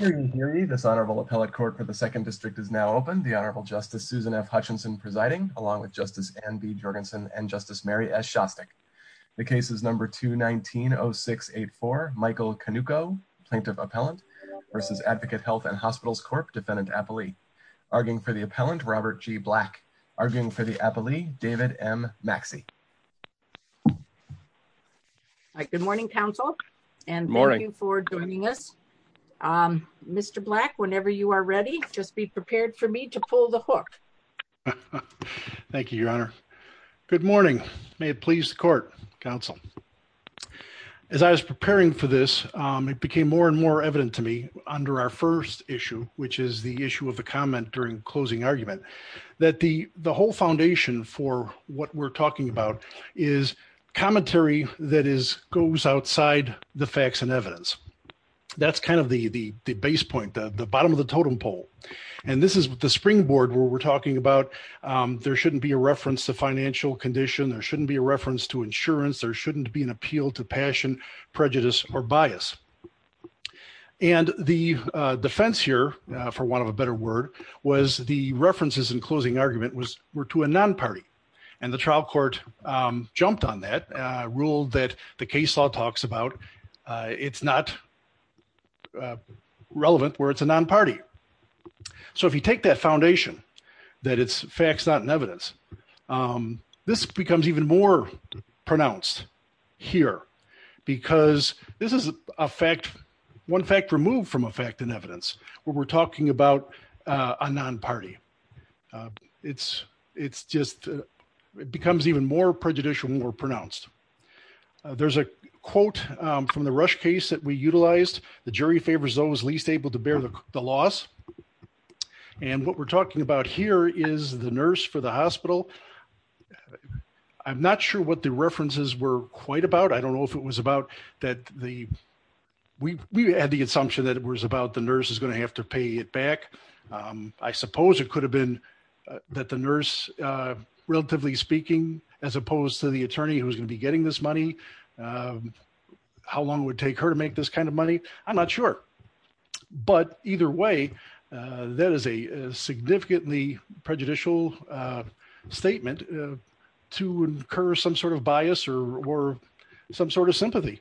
Michael Konewko, Plaintiff Appellant v. Advocate Health and Hospitals Corp, Defendant Appellee. Arguing for the appellant, Robert G. Black. Arguing for the appellee, David M. Maxey. Good morning, counsel. Good morning. And thank you for joining us. Mr. Black, whenever you are ready, just be prepared for me to pull the hook. Thank you, Your Honor. Good morning. May it please the court, counsel. As I was preparing for this, it became more and more evident to me under our first issue, which is the issue of the comment during closing argument. That the whole foundation for what we're talking about is commentary that goes outside the facts and evidence. That's kind of the base point, the bottom of the totem pole. And this is the springboard where we're talking about there shouldn't be a reference to financial condition. There shouldn't be a reference to insurance. There shouldn't be an appeal to passion, prejudice, or bias. And the defense here, for want of a better word, was the references in closing argument were to a non-party. And the trial court jumped on that, ruled that the case law talks about it's not relevant where it's a non-party. So if you take that foundation, that it's facts not in evidence, this becomes even more pronounced here. Because this is a fact, one fact removed from a fact in evidence, where we're talking about a non-party. It's just, it becomes even more prejudicial when we're pronounced. There's a quote from the Rush case that we utilized. The jury favors those least able to bear the loss. And what we're talking about here is the nurse for the hospital. I'm not sure what the references were quite about. I don't know if it was about that the, we had the assumption that it was about the nurse is going to have to pay it back. I suppose it could have been that the nurse, relatively speaking, as opposed to the attorney who's going to be getting this money, how long it would take her to make this kind of money. I'm not sure. But either way, that is a significantly prejudicial statement to incur some sort of bias or some sort of sympathy.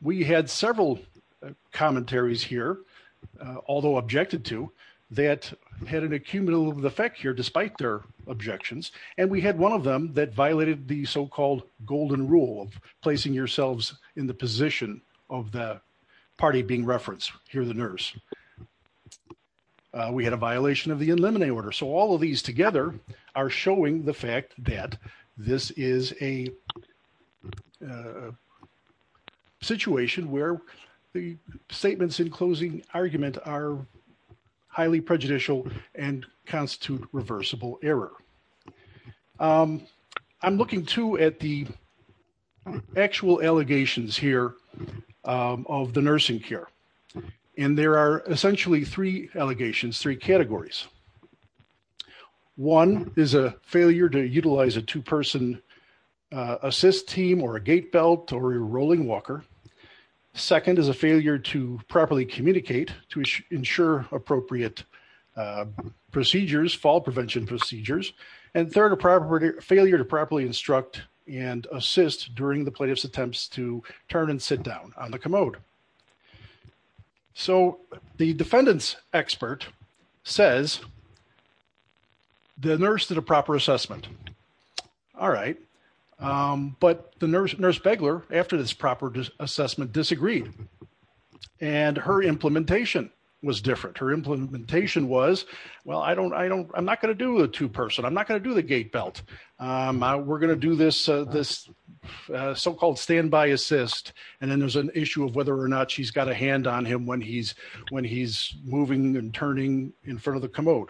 We had several commentaries here, although objected to, that had an accumulative effect here, despite their objections. And we had one of them that violated the so-called golden rule of placing yourselves in the position of the party being referenced here, the nurse. We had a violation of the in limine order. So all of these together are showing the fact that this is a situation where the statements in closing argument are highly prejudicial and constitute reversible error. I'm looking, too, at the actual allegations here of the nursing care. And there are essentially three allegations, three categories. One is a failure to utilize a two-person assist team or a gait belt or a rolling walker. Second is a failure to properly communicate to ensure appropriate procedures, fall prevention procedures. And third, a failure to properly instruct and assist during the plaintiff's attempts to turn and sit down on the commode. So the defendant's expert says the nurse did a proper assessment. All right. But the nurse beglar, after this proper assessment, disagreed. And her implementation was different. Her implementation was, well, I'm not going to do the two-person. I'm not going to do the gait belt. We're going to do this so-called standby assist. And then there's an issue of whether or not she's got a hand on him when he's moving and turning in front of the commode.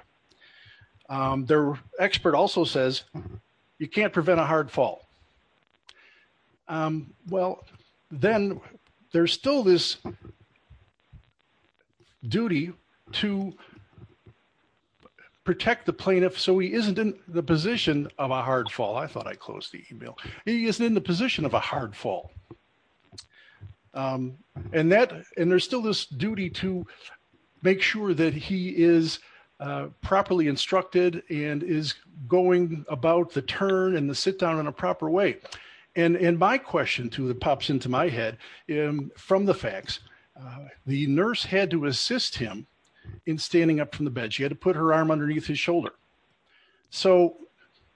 Their expert also says you can't prevent a hard fall. Well, then there's still this duty to protect the plaintiff so he isn't in the position of a hard fall. I thought I closed the email. He isn't in the position of a hard fall. And there's still this duty to make sure that he is properly instructed and is going about the turn and the sit-down in a proper way. And my question, too, that pops into my head from the facts, the nurse had to assist him in standing up from the bed. She had to put her arm underneath his shoulder. So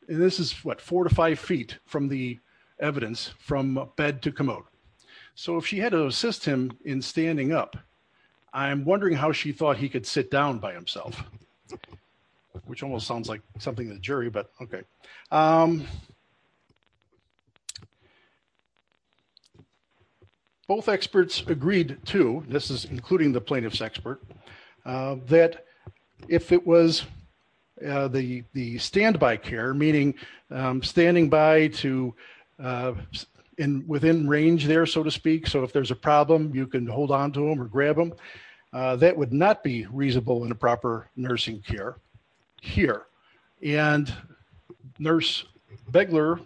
this is, what, four to five feet from the evidence from bed to commode. So if she had to assist him in standing up, I'm wondering how she thought he could sit down by himself, which almost sounds like something to the jury, but okay. Both experts agreed, too, this is including the plaintiff's expert, that if it was the standby care, meaning standing by to within range there, so to speak, so if there's a problem, you can hold on to him or grab him, that would not be reasonable in a proper nursing care here. And nurse Begler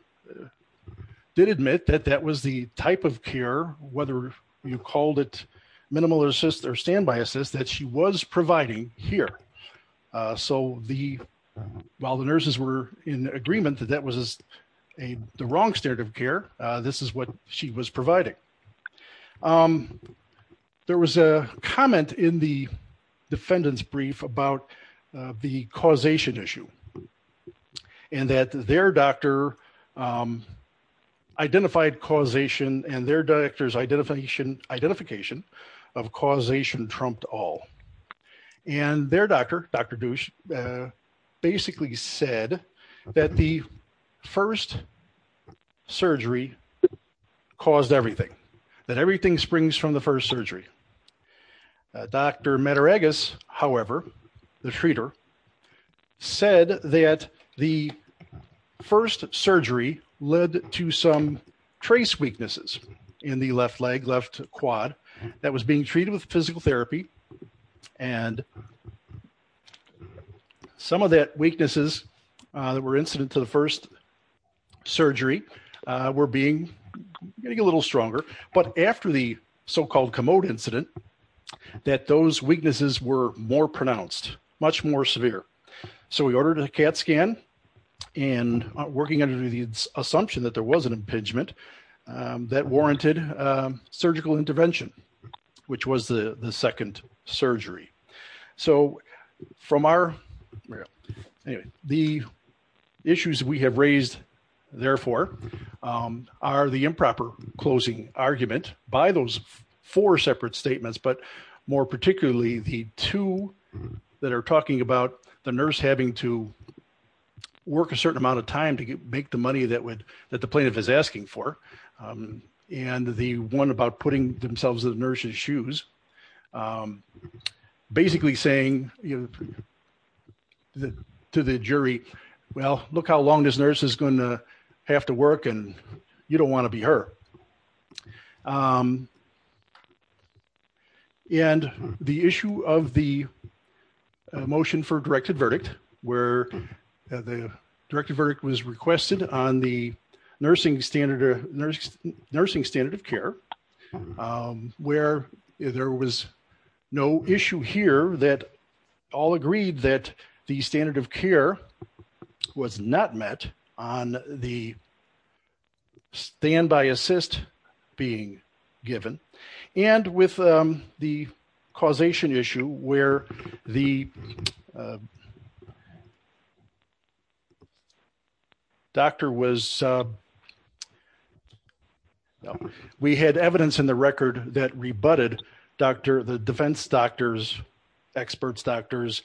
did admit that that was the type of care, whether you called it minimal assist or standby assist, that she was providing here. So while the nurses were in agreement that that was the wrong state of care, this is what she was providing. There was a comment in the defendant's brief about the causation issue and that their doctor identified causation and their doctor's identification of causation trumped all. And their doctor, Dr. Dusch, basically said that the first surgery caused everything, that everything springs from the first surgery. Dr. Mataragos, however, the treater, said that the first surgery led to some trace weaknesses in the left leg, left quad, that was being treated with physical therapy. And some of that weaknesses that were incident to the first surgery were being, getting a little stronger, but after the so-called commode incident, that those weaknesses were more pronounced, much more severe. So we ordered a CAT scan and working under the assumption that there was an impingement that warranted surgical intervention, which was the second surgery. So from our, the issues we have raised, therefore, are the improper closing argument by those four separate statements, but more particularly the two that are talking about the nurse having to work a certain amount of time to make the money that would, that the plaintiff is asking for. And the one about putting themselves in the nurse's shoes, basically saying to the jury, well, look how long this nurse is going to have to work and you don't want to be her. And the issue of the motion for directed verdict, where the directive verdict was requested on the nursing standard of care, where there was no issue here that all agreed that the standard of care was not met on the standby assist, being given and with the causation issue where the doctor was, we had evidence in the record that rebutted doctor, the defense doctors, experts, doctors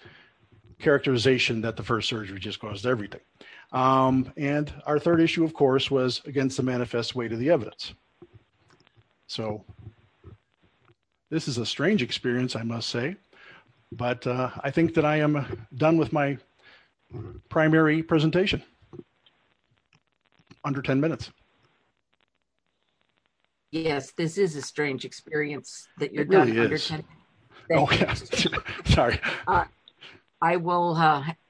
characterization that the first surgery just caused everything. And our third issue, of course, was against the manifest way to the evidence. So this is a strange experience, I must say, but I think that I am done with my primary presentation. Under 10 minutes. Yes, this is a strange experience. Sorry. I will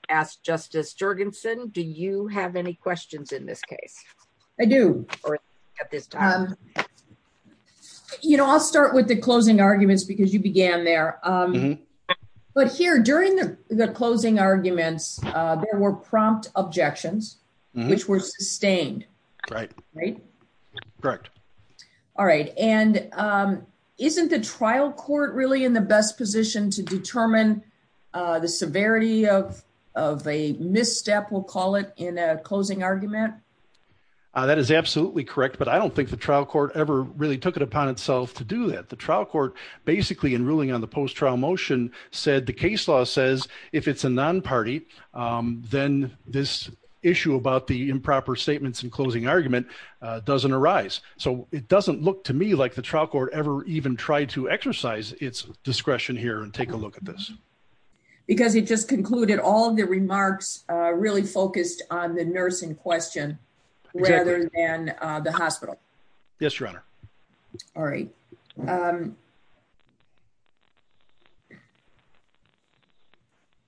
ask Justice Jorgensen, do you have any questions in this case. I do. You know, I'll start with the closing arguments because you began there. But here during the closing arguments, there were prompt objections, which were sustained. Right. Right. Correct. All right. And isn't the trial court really in the best position to determine the severity of of a misstep, we'll call it in a closing argument. That is absolutely correct. But I don't think the trial court ever really took it upon itself to do that. The trial court basically in ruling on the post trial motion said the case law says if it's a non party, then this issue about the improper statements and closing argument doesn't arise. So it doesn't look to me like the trial court ever even tried to exercise its discretion here and take a look at this. Because he just concluded all the remarks really focused on the nursing question, rather than the hospital. Yes, Your Honor. All right.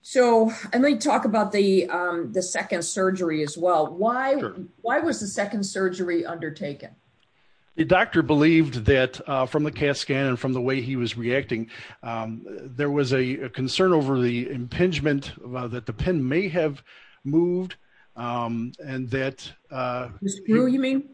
So, and they talk about the, the second surgery as well. Why, why was the second surgery undertaken. The doctor believed that from the cast scan and from the way he was reacting. There was a concern over the impingement that the pin may have moved. And that you mean,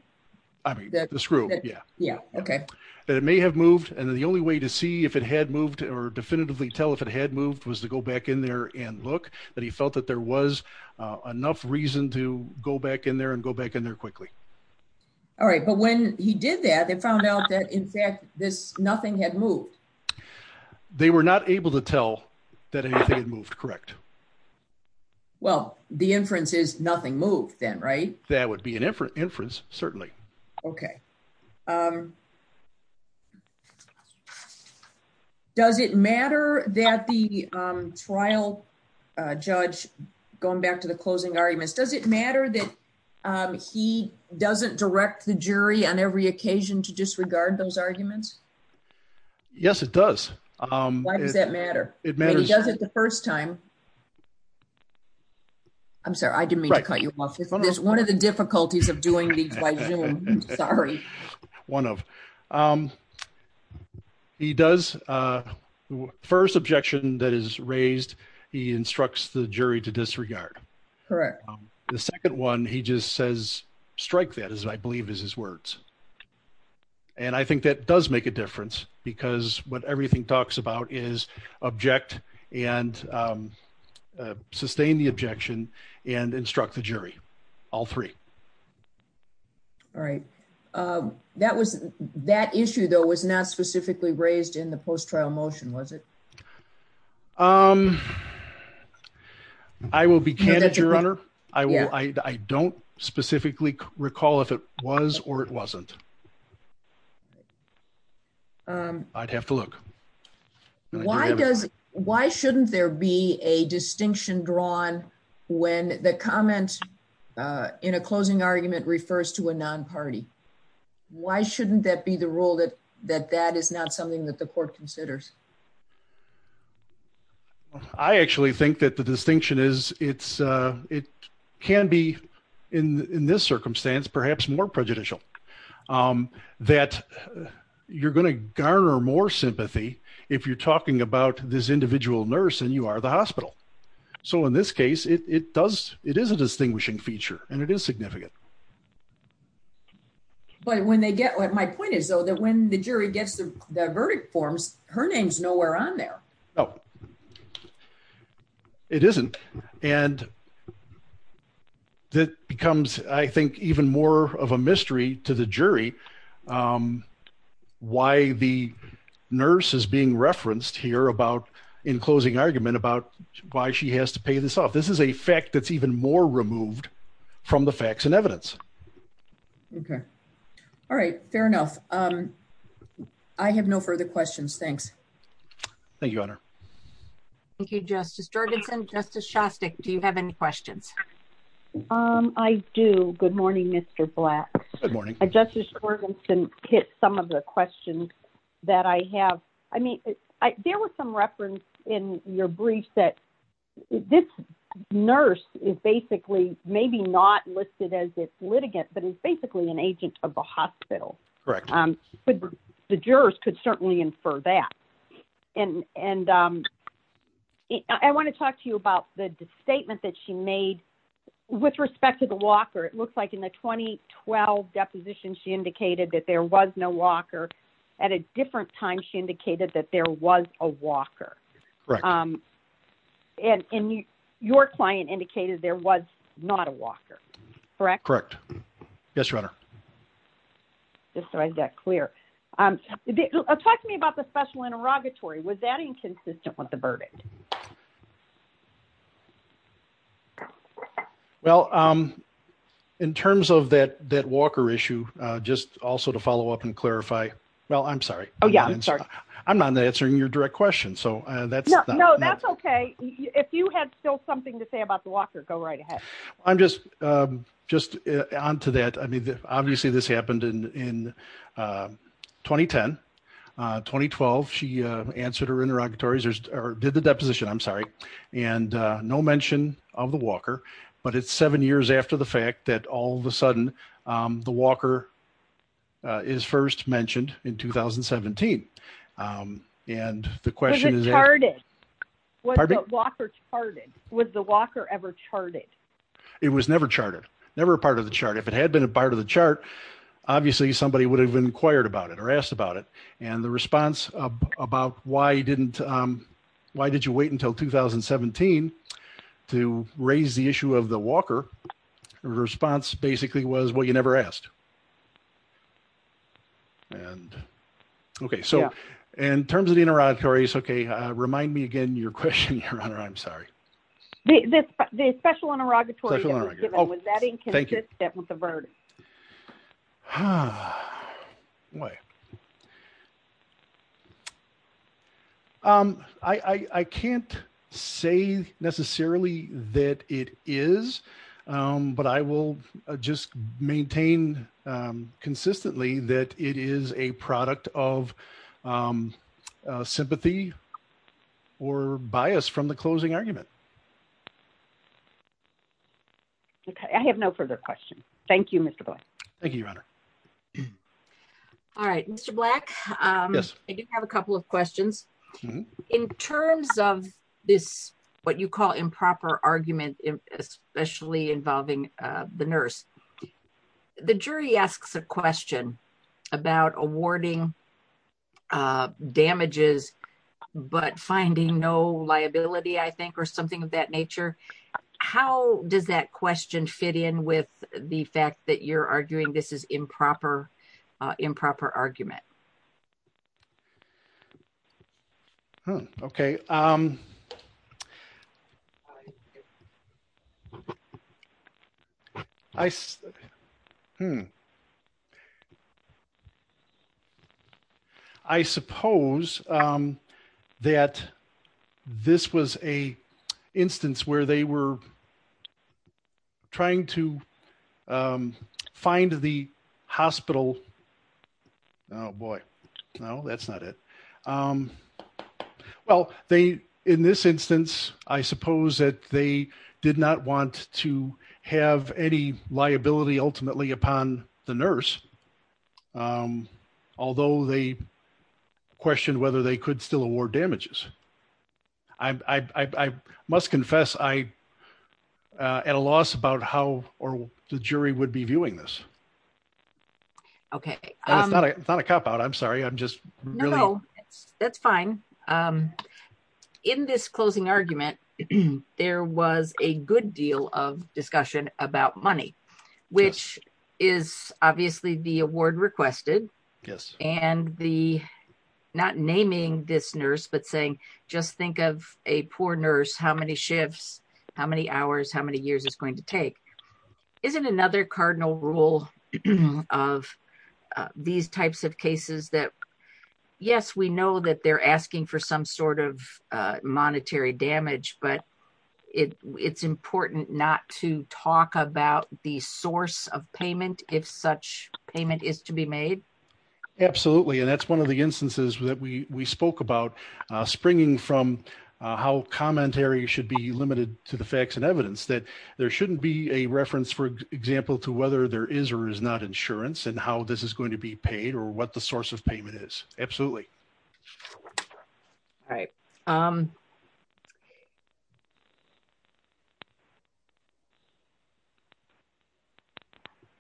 I mean, the screw. Yeah, yeah. Okay. That it may have moved and the only way to see if it had moved or definitively tell if it had moved was to go back in there and look that he felt that there was enough reason to go back in there and go back in there quickly. All right, but when he did that they found out that in fact this nothing had moved. They were not able to tell that anything had moved. Correct. Well, the inference is nothing moved then right That would be an inference, certainly. Okay. Does it matter that the trial. Judge, going back to the closing arguments, does it matter that he doesn't direct the jury on every occasion to disregard those arguments. Yes, it does. Does that matter. It matters. Does it the first time. I'm sorry, I didn't mean to cut you off. One of the difficulties of doing the Sorry, one of He does. First objection that is raised. He instructs the jury to disregard. Correct. The second one. He just says strike that as I believe is his words. And I think that does make a difference because what everything talks about is object and sustain the objection and instruct the jury, all three. All right. That was that issue, though, was not specifically raised in the post trial motion was it Um, I will be candid, Your Honor, I will. I don't specifically recall if it was or it wasn't I'd have to look Why does, why shouldn't there be a distinction drawn when the comment in a closing argument refers to a non party. Why shouldn't that be the rule that that that is not something that the court considers I actually think that the distinction is it's it can be in this circumstance, perhaps more prejudicial That you're going to garner more sympathy. If you're talking about this individual nurse and you are the hospital. So in this case, it does. It is a distinguishing feature and it is significant. But when they get what my point is, though, that when the jury gets the verdict forms her name's nowhere on there. Oh, It isn't and That becomes, I think, even more of a mystery to the jury. Why the nurse is being referenced here about in closing argument about why she has to pay this off. This is a fact that's even more removed from the facts and evidence. Okay. All right. Fair enough. I have no further questions. Thanks. Thank you, Your Honor. Thank you, Justice Jorgensen. Justice Shostak. Do you have any questions. I do. Good morning, Mr. Black Justice Jorgensen hit some of the questions that I have. I mean, there was some reference in your brief that this nurse is basically maybe not listed as a litigant, but it's basically an agent of the hospital. Correct. The jurors could certainly infer that and and I want to talk to you about the statement that she made with respect to the Walker. It looks like in the 2012 deposition. She indicated that there was no Walker at a different time. She indicated that there was a Walker. And your client indicated there was not a Walker. Correct. Correct. Yes, Your Honor. Just so I got clear. Talk to me about the special interrogatory. Was that inconsistent with the verdict? Well, in terms of that Walker issue, just also to follow up and clarify. Well, I'm sorry. Oh, yeah, I'm sorry. I'm not answering your direct question. So that's No, that's okay. If you had still something to say about the Walker, go right ahead. I'm just just on to that. I mean, obviously, this happened in 2010-2012. She answered her interrogatories or did the deposition. I'm sorry. And no mention of the Walker, but it's seven years after the fact that all of a sudden, the Walker is first mentioned in 2017. Was it charted? Was the Walker ever charted? It was never charted. Never part of the chart. If it had been a part of the chart, obviously, somebody would have inquired about it or asked about it. And the response about why didn't, why did you wait until 2017 to raise the issue of the Walker response basically was, well, you never asked. And, okay, so in terms of the interrogatories, okay, remind me again, your question, Your Honor, I'm sorry. The special interrogatory that was given, was that inconsistent with the verdict? Huh. I can't say necessarily that it is, but I will just maintain consistently that it is a product of sympathy or bias from the closing argument. Okay, I have no further questions. Thank you, Mr. Black. Thank you, Your Honor. All right, Mr. Black, I do have a couple of questions. In terms of this, what you call improper argument, especially involving the nurse, the jury asks a question about awarding damages, but finding no liability, I think, or something like that. Something of that nature. How does that question fit in with the fact that you're arguing this is improper, improper argument? Hmm, okay. I suppose that this was an instance where they were trying to find the hospital, oh boy, no, that's not it. Well, they, in this instance, I suppose that they did not want to have any liability ultimately upon the nurse, although they questioned whether they could still award damages. I must confess, I at a loss about how the jury would be viewing this. Okay. It's not a cop out. I'm sorry. I'm just really. That's fine. In this closing argument, there was a good deal of discussion about money, which is obviously the award requested. Yes. And the, not naming this nurse, but saying, just think of a poor nurse, how many shifts, how many hours, how many years it's going to take. Isn't another cardinal rule of these types of cases that, yes, we know that they're asking for some sort of monetary damage, but it's important not to talk about the source of payment if such payment is to be made. Absolutely, and that's one of the instances that we spoke about springing from how commentary should be limited to the facts and evidence that there shouldn't be a reference, for example, to whether there is or is not insurance and how this is going to be paid or what the source of payment is. Absolutely. Okay.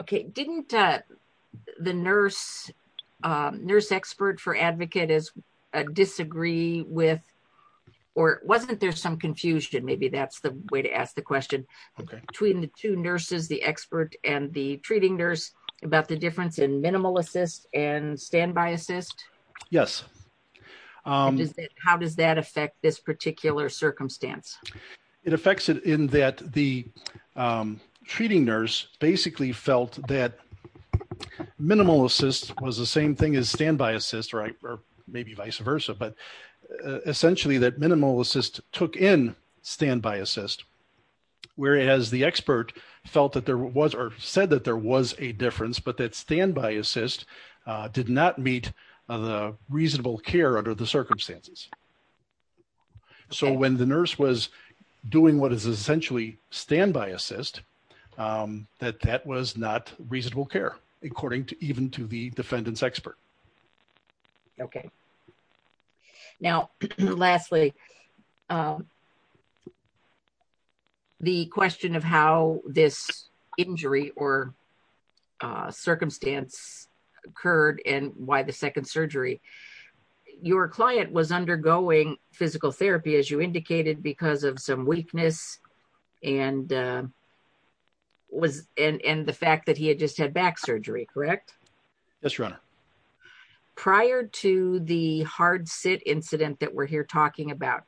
Okay, didn't the nurse, nurse expert for advocate is disagree with, or wasn't there some confusion maybe that's the way to ask the question between the two nurses the expert and the treating nurse about the difference in minimal assist and standby assist. Yes. How does that affect this particular circumstance. It affects it in that the treating nurse basically felt that minimal assist was the same thing as standby assist right or maybe vice versa but essentially that minimal assist took in standby assist. Whereas the expert felt that there was or said that there was a difference but that standby assist did not meet the reasonable care under the circumstances. So when the nurse was doing what is essentially standby assist that that was not reasonable care, according to even to the defendants expert. Okay. Now, lastly, the question of how this injury or circumstance occurred and why the second surgery. Your client was undergoing physical therapy as you indicated because of some weakness and was in the fact that he had just had back surgery correct. Yes runner. Prior to the hard set incident that we're here talking about.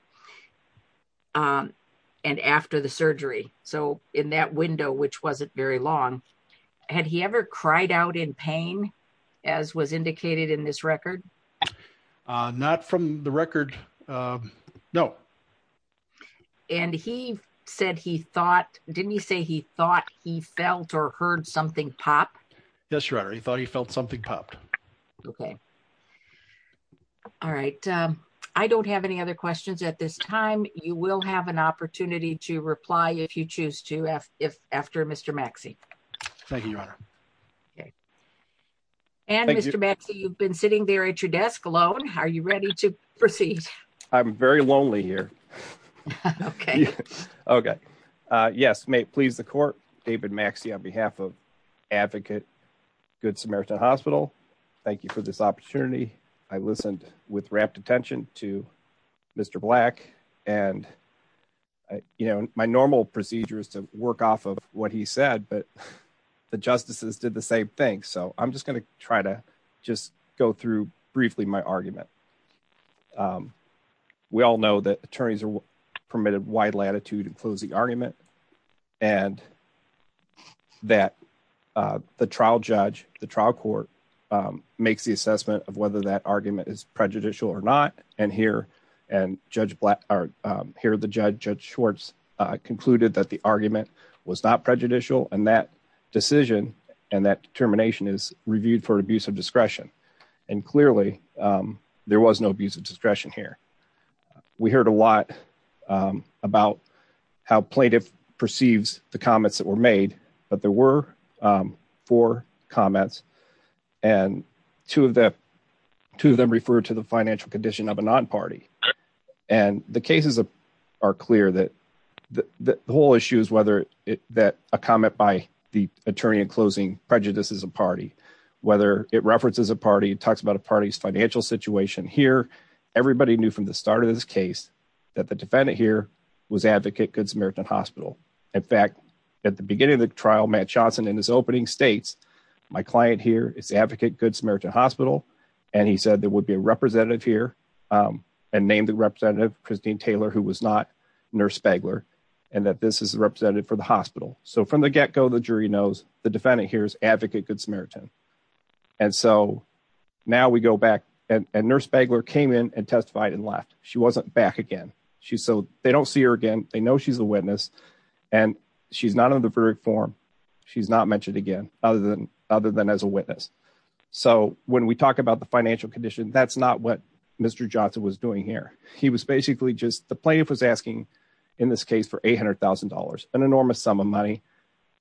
And after the surgery. So, in that window which wasn't very long. Had he ever cried out in pain, as was indicated in this record. Not from the record. No. And he said he thought, didn't he say he thought he felt or heard something pop. Yes, you're already thought he felt something popped. Okay. All right. I don't have any other questions at this time, you will have an opportunity to reply if you choose to if after Mr Maxie. Thank you. Okay. And Mr Maxie you've been sitting there at your desk alone, how are you ready to proceed. I'm very lonely here. Okay. Okay. Yes, may it please the court, David Maxie on behalf of advocate. Good Samaritan Hospital. Thank you for this opportunity. I listened with rapt attention to Mr black, and, you know, my normal procedures to work off of what he said but the justices did the same thing so I'm just going to try to just go through briefly my argument. We all know that attorneys are permitted wide latitude and close the argument, and that the trial judge, the trial court makes the assessment of whether that argument is prejudicial or not, and here, and judge black are here the judge judge shorts concluded that the argument was not prejudicial and that decision, and that determination is reviewed for abuse of discretion. And clearly, there was no abuse of discretion here. We heard a lot about how plaintiff perceives the comments that were made, but there were four comments. And two of the two of them refer to the financial condition of a non party, and the cases are clear that the whole issue is whether it that a comment by the attorney and closing prejudices a party, whether it references a party talks about a party's financial situation here. Everybody knew from the start of this case that the defendant here was advocate Good Samaritan Hospital. In fact, at the beginning of the trial Matt Johnson in his opening states. My client here is advocate Good Samaritan Hospital, and he said there would be a representative here and name the representative Christine Taylor who was not nurse Spangler, and that this is represented for the hospital. So from the get go the jury knows the defendant here is advocate Good Samaritan. And so, now we go back and nurse Spangler came in and testified and left, she wasn't back again. She so they don't see her again, they know she's a witness, and she's not in the very form. She's not mentioned again, other than other than as a witness. So, when we talk about the financial condition that's not what Mr Johnson was doing here. He was basically just the plaintiff was asking. In this case for $800,000, an enormous sum of money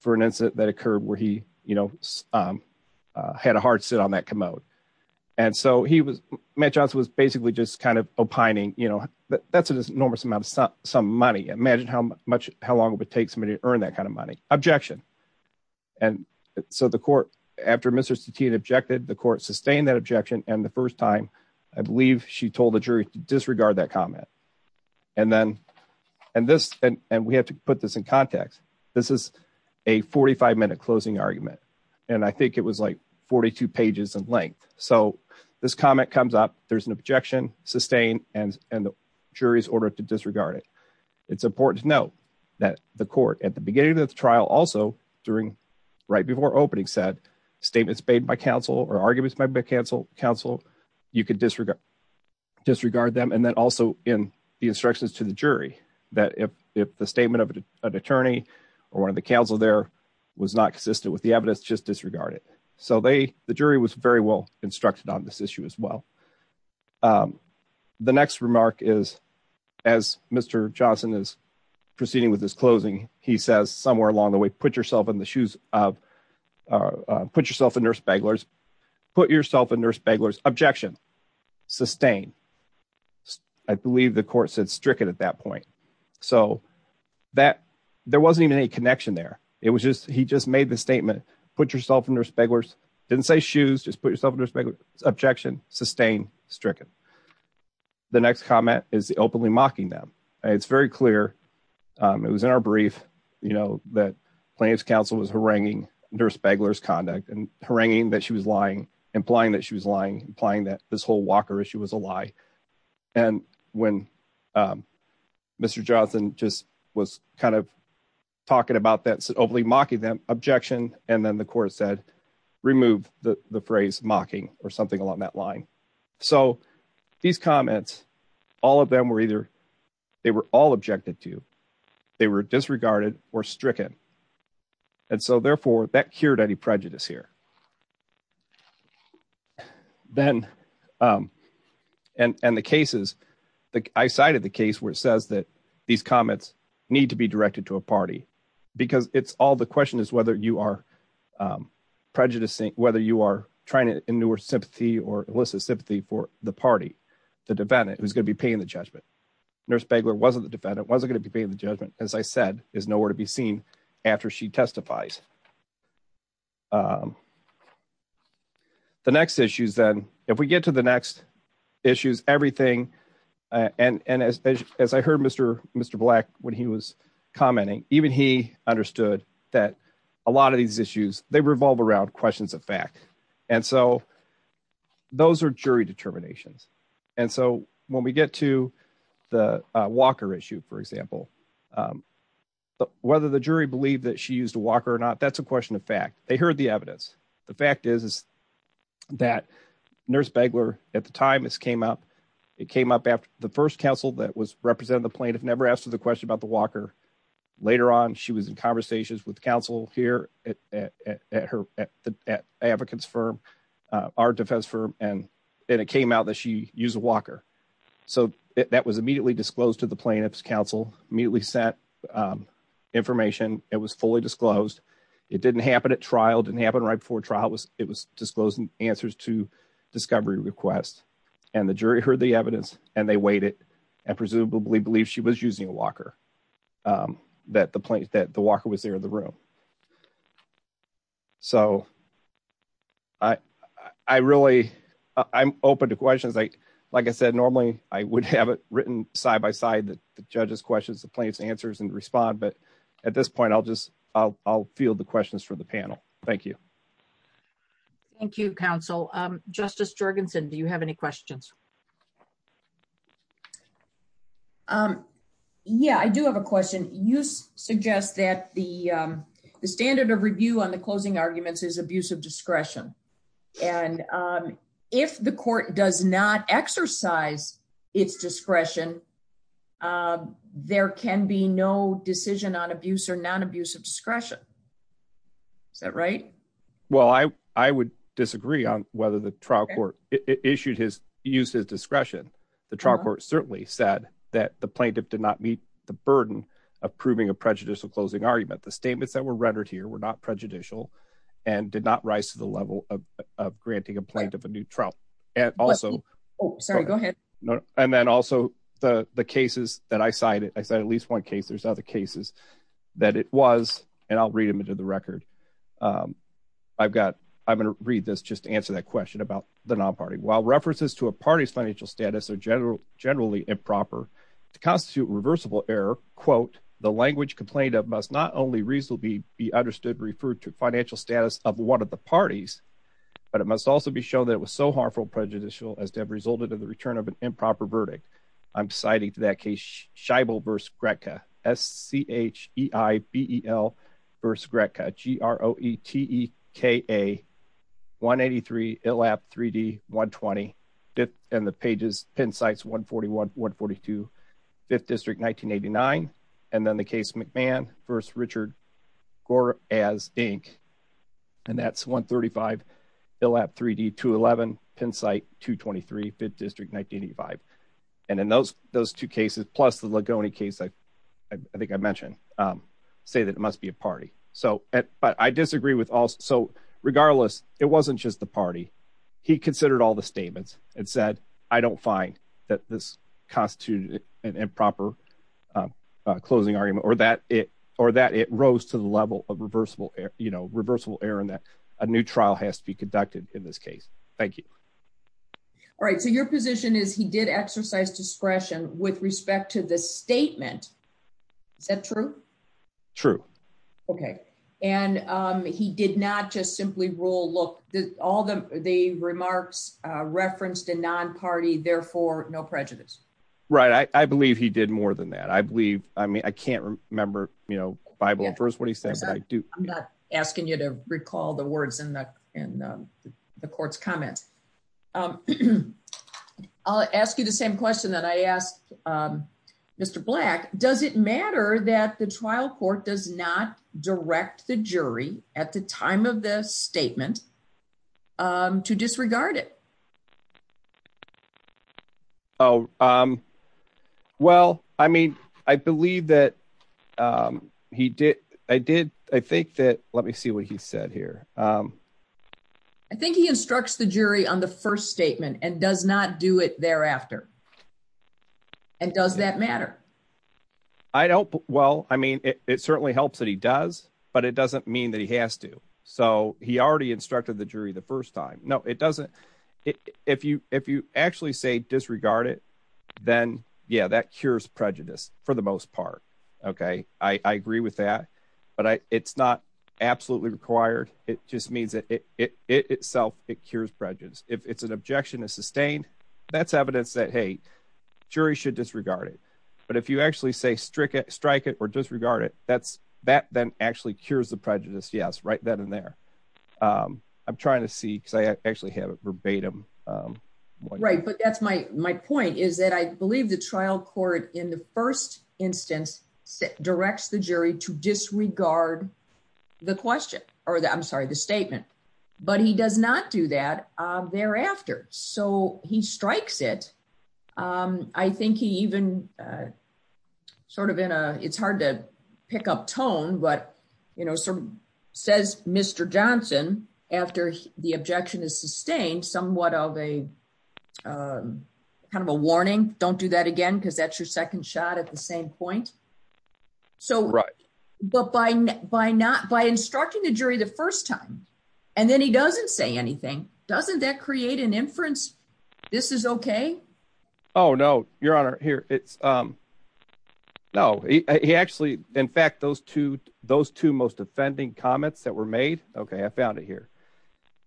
for an incident that occurred where he, you know, had a hard sit on that commode. And so he was Matt Johnson was basically just kind of opining, you know, that's an enormous amount of some money imagine how much, how long it would take somebody to earn that kind of money objection. And so the court, after Mr Stettino objected the court sustained that objection, and the first time, I believe, she told the jury to disregard that comment. And then, and this, and we have to put this in context. This is a 45 minute closing argument. And I think it was like 42 pages in length. So, this comment comes up, there's an objection sustained, and, and the jury's order to disregard it. It's important to note that the court at the beginning of the trial also during right before opening said statements made by counsel or arguments by counsel, counsel, you could disregard disregard them and then also in the instructions to the jury that if, if the statement of an attorney, or one of the council there was not consistent with the evidence just disregard it, so they, the jury was very well instructed on this issue as well. The next remark is, as Mr. Johnson is proceeding with this closing, he says somewhere along the way, put yourself in the shoes of, put yourself in nurse beglars, put yourself in nurse beglars objection, sustain. I believe the court said stricken at that point. So that there wasn't even any connection there. It was just, he just made the statement, put yourself in nurse beglars, didn't say shoes, just put yourself in nurse beglars objection, sustain stricken. The next comment is the openly mocking them. It's very clear. It was in our brief, you know, that plaintiff's counsel was haranguing nurse beglars conduct and haranguing that she was lying, implying that she was lying, implying that this whole Walker issue was a lie. And when Mr. Johnson just was kind of talking about that openly mocking them objection, and then the court said, remove the phrase mocking or something along that line. So these comments, all of them were either, they were all objected to, they were disregarded or stricken. And so therefore that cured any prejudice here. Then, and the cases, I cited the case where it says that these comments need to be directed to a party because it's all the question is whether you are prejudicing, whether you are trying to endure sympathy or elicit sympathy for the party, the defendant, who's going to be paying the judgment. Nurse beglar, wasn't the defendant wasn't going to be paid. The judgment, as I said, is nowhere to be seen after she testifies. The next issues. Then if we get to the next issues, everything. And as I heard Mr. Mr. Black, when he was commenting, even he understood that a lot of these issues, they revolve around questions of fact. And so those are jury determinations. And so when we get to the Walker issue, for example, whether the jury believed that she used a Walker or not, that's a question of fact, they heard the evidence. The fact is, is that nurse beglar at the time this came up, it came up after the first counsel that was representing the plaintiff never asked her the question about the Walker. Later on, she was in conversations with counsel here at her, at the advocates firm, our defense firm, and it came out that she used a Walker. So that was immediately disclosed to the plaintiff's counsel, immediately set information. It was fully disclosed. It didn't happen at trial didn't happen right before trial was it was disclosing answers to discovery request. And the jury heard the evidence and they waited and presumably believe she was using a Walker that the place that the Walker was there in the room. So, I, I really, I'm open to questions. I, like I said, normally, I would have it written side by side that the judges questions the plaintiff's answers and respond. But at this point, I'll just, I'll, I'll feel the questions for the panel. Thank you. Thank you, counsel, Justice Jorgensen. Do you have any questions. Um, yeah, I do have a question. You suggest that the, the standard of review on the closing arguments is abusive discretion. And if the court does not exercise its discretion. There can be no decision on abuse or non abusive discretion. Is that right. Well, I, I would disagree on whether the trial court issued his use his discretion. The trial court certainly said that the plaintiff did not meet the burden of proving a prejudicial closing argument the statements that were rendered here were not prejudicial and did not rise to the level of granting a plaintiff a new trial, and also And then also the the cases that I cited I said at least one case there's other cases that it was, and I'll read them into the record. I've got, I'm going to read this just to answer that question about the non party while references to a party's financial status or general generally improper constitute reversible error, quote, the language complained of must not only reasonably be understood referred to financial status of one of the parties, but it must also be shown that it was so harmful prejudicial as to have resulted in the return of an improper verdict. I'm citing to that case shibal verse Greta s ch e i b e l verse Greta g r o e t e k a 183 elap 3d 120 dip and the pages pin sites 141 142 fifth district 1989, and then the case McMahon first Richard Gore, as Inc. And that's 135 elap 3d 211 pin site 223 fifth district 1985. And in those, those two cases, plus the Ligoni case I think I mentioned, say that it must be a party. So, but I disagree with also regardless, it wasn't just the party. He considered all the statements and said, I don't find that this constitute an improper closing argument or that it or that it rose to the level of reversible, you know, reversible Aaron that a new trial has to be conducted in this case. Thank you. All right, so your position is he did exercise discretion with respect to the statement. Is that true. True. Okay. And he did not just simply rule look that all the, the remarks referenced a non party therefore no prejudice. Right, I believe he did more than that I believe, I mean I can't remember, you know, Bible verse what he says that I do not asking you to recall the words in the, in the court's comments. I'll ask you the same question that I asked Mr. Black, does it matter that the trial court does not direct the jury at the time of the statement to disregard it. Oh, um, well, I mean, I believe that he did. I did. I think that, let me see what he said here. I think he instructs the jury on the first statement and does not do it thereafter. And does that matter. I don't. Well, I mean, it certainly helps that he does, but it doesn't mean that he has to. So, he already instructed the jury the first time. No, it doesn't. If you, if you actually say disregard it, then yeah that cures prejudice, for the most part. Okay, I agree with that. But I, it's not absolutely required, it just means that it itself, it cures prejudice, if it's an objection is sustained. That's evidence that hey jury should disregard it. But if you actually say strict strike it or disregard it, that's that then actually cures the prejudice yes right then and there. I'm trying to see because I actually have a verbatim. Right, but that's my, my point is that I believe the trial court in the first instance, directs the jury to disregard the question, or the I'm sorry the statement, but he does not do that. Thereafter, so he strikes it. I think he even sort of in a, it's hard to pick up tone but you know some says, Mr. Johnson, after the objection is sustained somewhat of a kind of a warning, don't do that again because that's your second shot at the same point. So, right. But by, by not by instructing the jury the first time, and then he doesn't say anything, doesn't that create an inference. This is okay. Oh no, your honor here, it's. No, he actually. In fact, those two, those two most offending comments that were made. Okay, I found it here.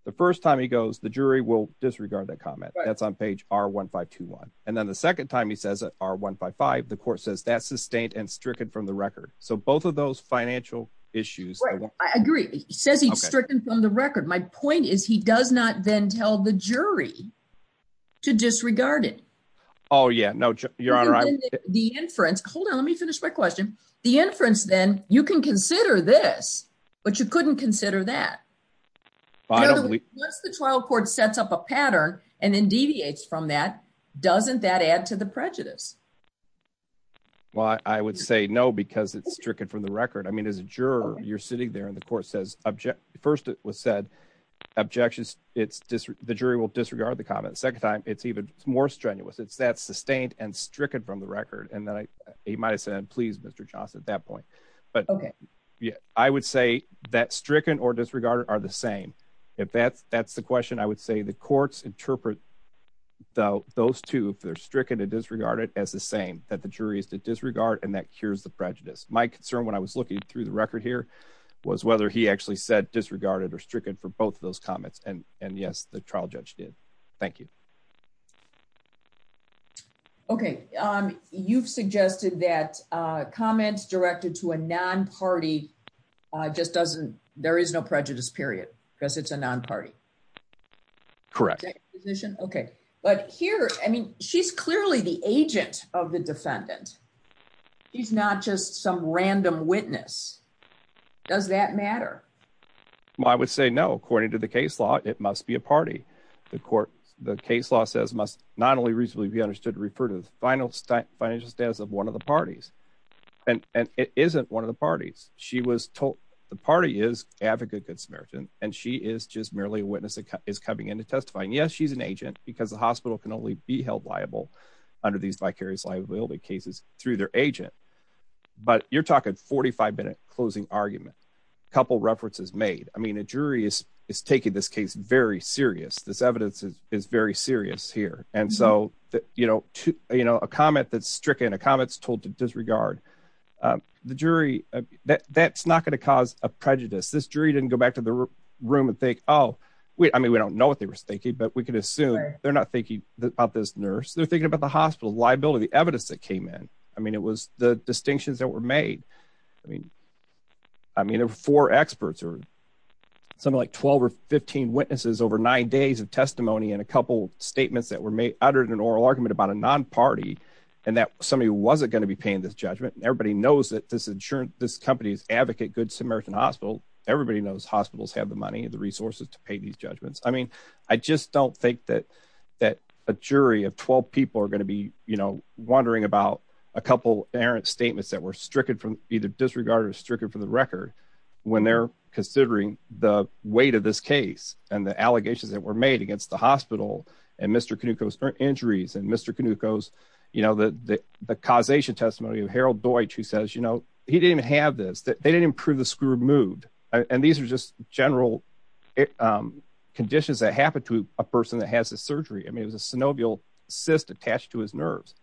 The first time he goes the jury will disregard that comment that's on page, or 1521, and then the second time he says that are one by five the court says that sustained and stricken from the record, so both of those financial issues. I agree. He says he's stricken from the record. My point is he does not then tell the jury to disregard it. Oh yeah no you're on the inference. Hold on, let me finish my question. The inference, then you can consider this, but you couldn't consider that trial court sets up a pattern, and then deviates from that doesn't that add to the prejudice. Well, I would say no because it's stricken from the record I mean as a juror, you're sitting there and the court says object. First, it was said objections, it's just the jury will disregard the comment second time, it's even more strenuous it's that sustained and stricken from the record and then he might have said please Mr. Johnson at that point. But, yeah, I would say that stricken or disregarded are the same. If that's, that's the question I would say the courts interpret, though, those two if they're stricken to disregard it as the same that the jury is to disregard and that cures the prejudice. My concern when I was looking through the record here was whether he actually said disregarded or stricken for both of those comments and, and yes the trial judge did. Thank you. Okay, um, you've suggested that comments directed to a non party just doesn't, there is no prejudice period, because it's a non party. Correct. Okay, but here, I mean, she's clearly the agent of the defendant. He's not just some random witness. Does that matter. I would say no, according to the case law, it must be a party. The court, the case law says must not only reasonably be understood refer to the final financial status of one of the parties, and it isn't one of the parties, she was told the party is advocate good Samaritan, and she is just merely a witness is coming into testifying yes she's an agent, because the hospital can only be held liable under these vicarious liability cases through their agent. But you're talking 45 minute closing argument. Couple references made, I mean a jury is is taking this case very serious this evidence is very serious here, and so that, you know, to, you know, a comment that stricken a comments told to disregard the jury that that's not going to cause a prejudice this jury didn't go back to the room and think, Oh, wait, I mean we don't know what they were thinking but we can assume they're not thinking about this nurse they're thinking about the hospital liability I mean it was the distinctions that were made. I mean, I mean for experts or something like 12 or 15 witnesses over nine days of testimony and a couple statements that were made under an oral argument about a non party, and that somebody wasn't going to be paying this judgment everybody knows that this insurance, this company's advocate good Samaritan hospital, everybody knows hospitals have the money and the resources to pay these judgments I mean, I just don't think that that a jury of 12 people are going to be, you know, wondering about a couple errant statements that were stricken from either disregarded stricken for the record. When they're considering the weight of this case, and the allegations that were made against the hospital, and Mr Canucos injuries and Mr Canucos, you know that the causation testimony of Harold Deutsch who says you know he didn't have this that they didn't improve the screw moved, and these are just general conditions that happen to a person that has a surgery I mean it was a synovial cyst attached to his nerves.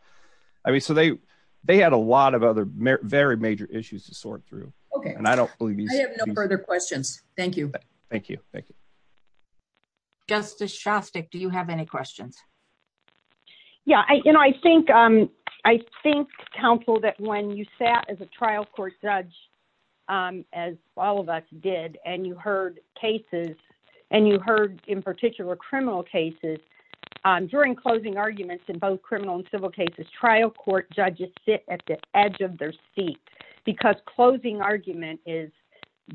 I mean, so they, they had a lot of other very major issues to sort through. Okay, and I don't believe you have no further questions. Thank you. Thank you. Thank you. Do you have any questions. Yeah, I, you know, I think, I think, Council that when you sat as a trial court judge, as all of us did, and you heard cases, and you heard in particular criminal cases. During closing arguments in both criminal and civil cases trial court judges sit at the edge of their seat, because closing argument is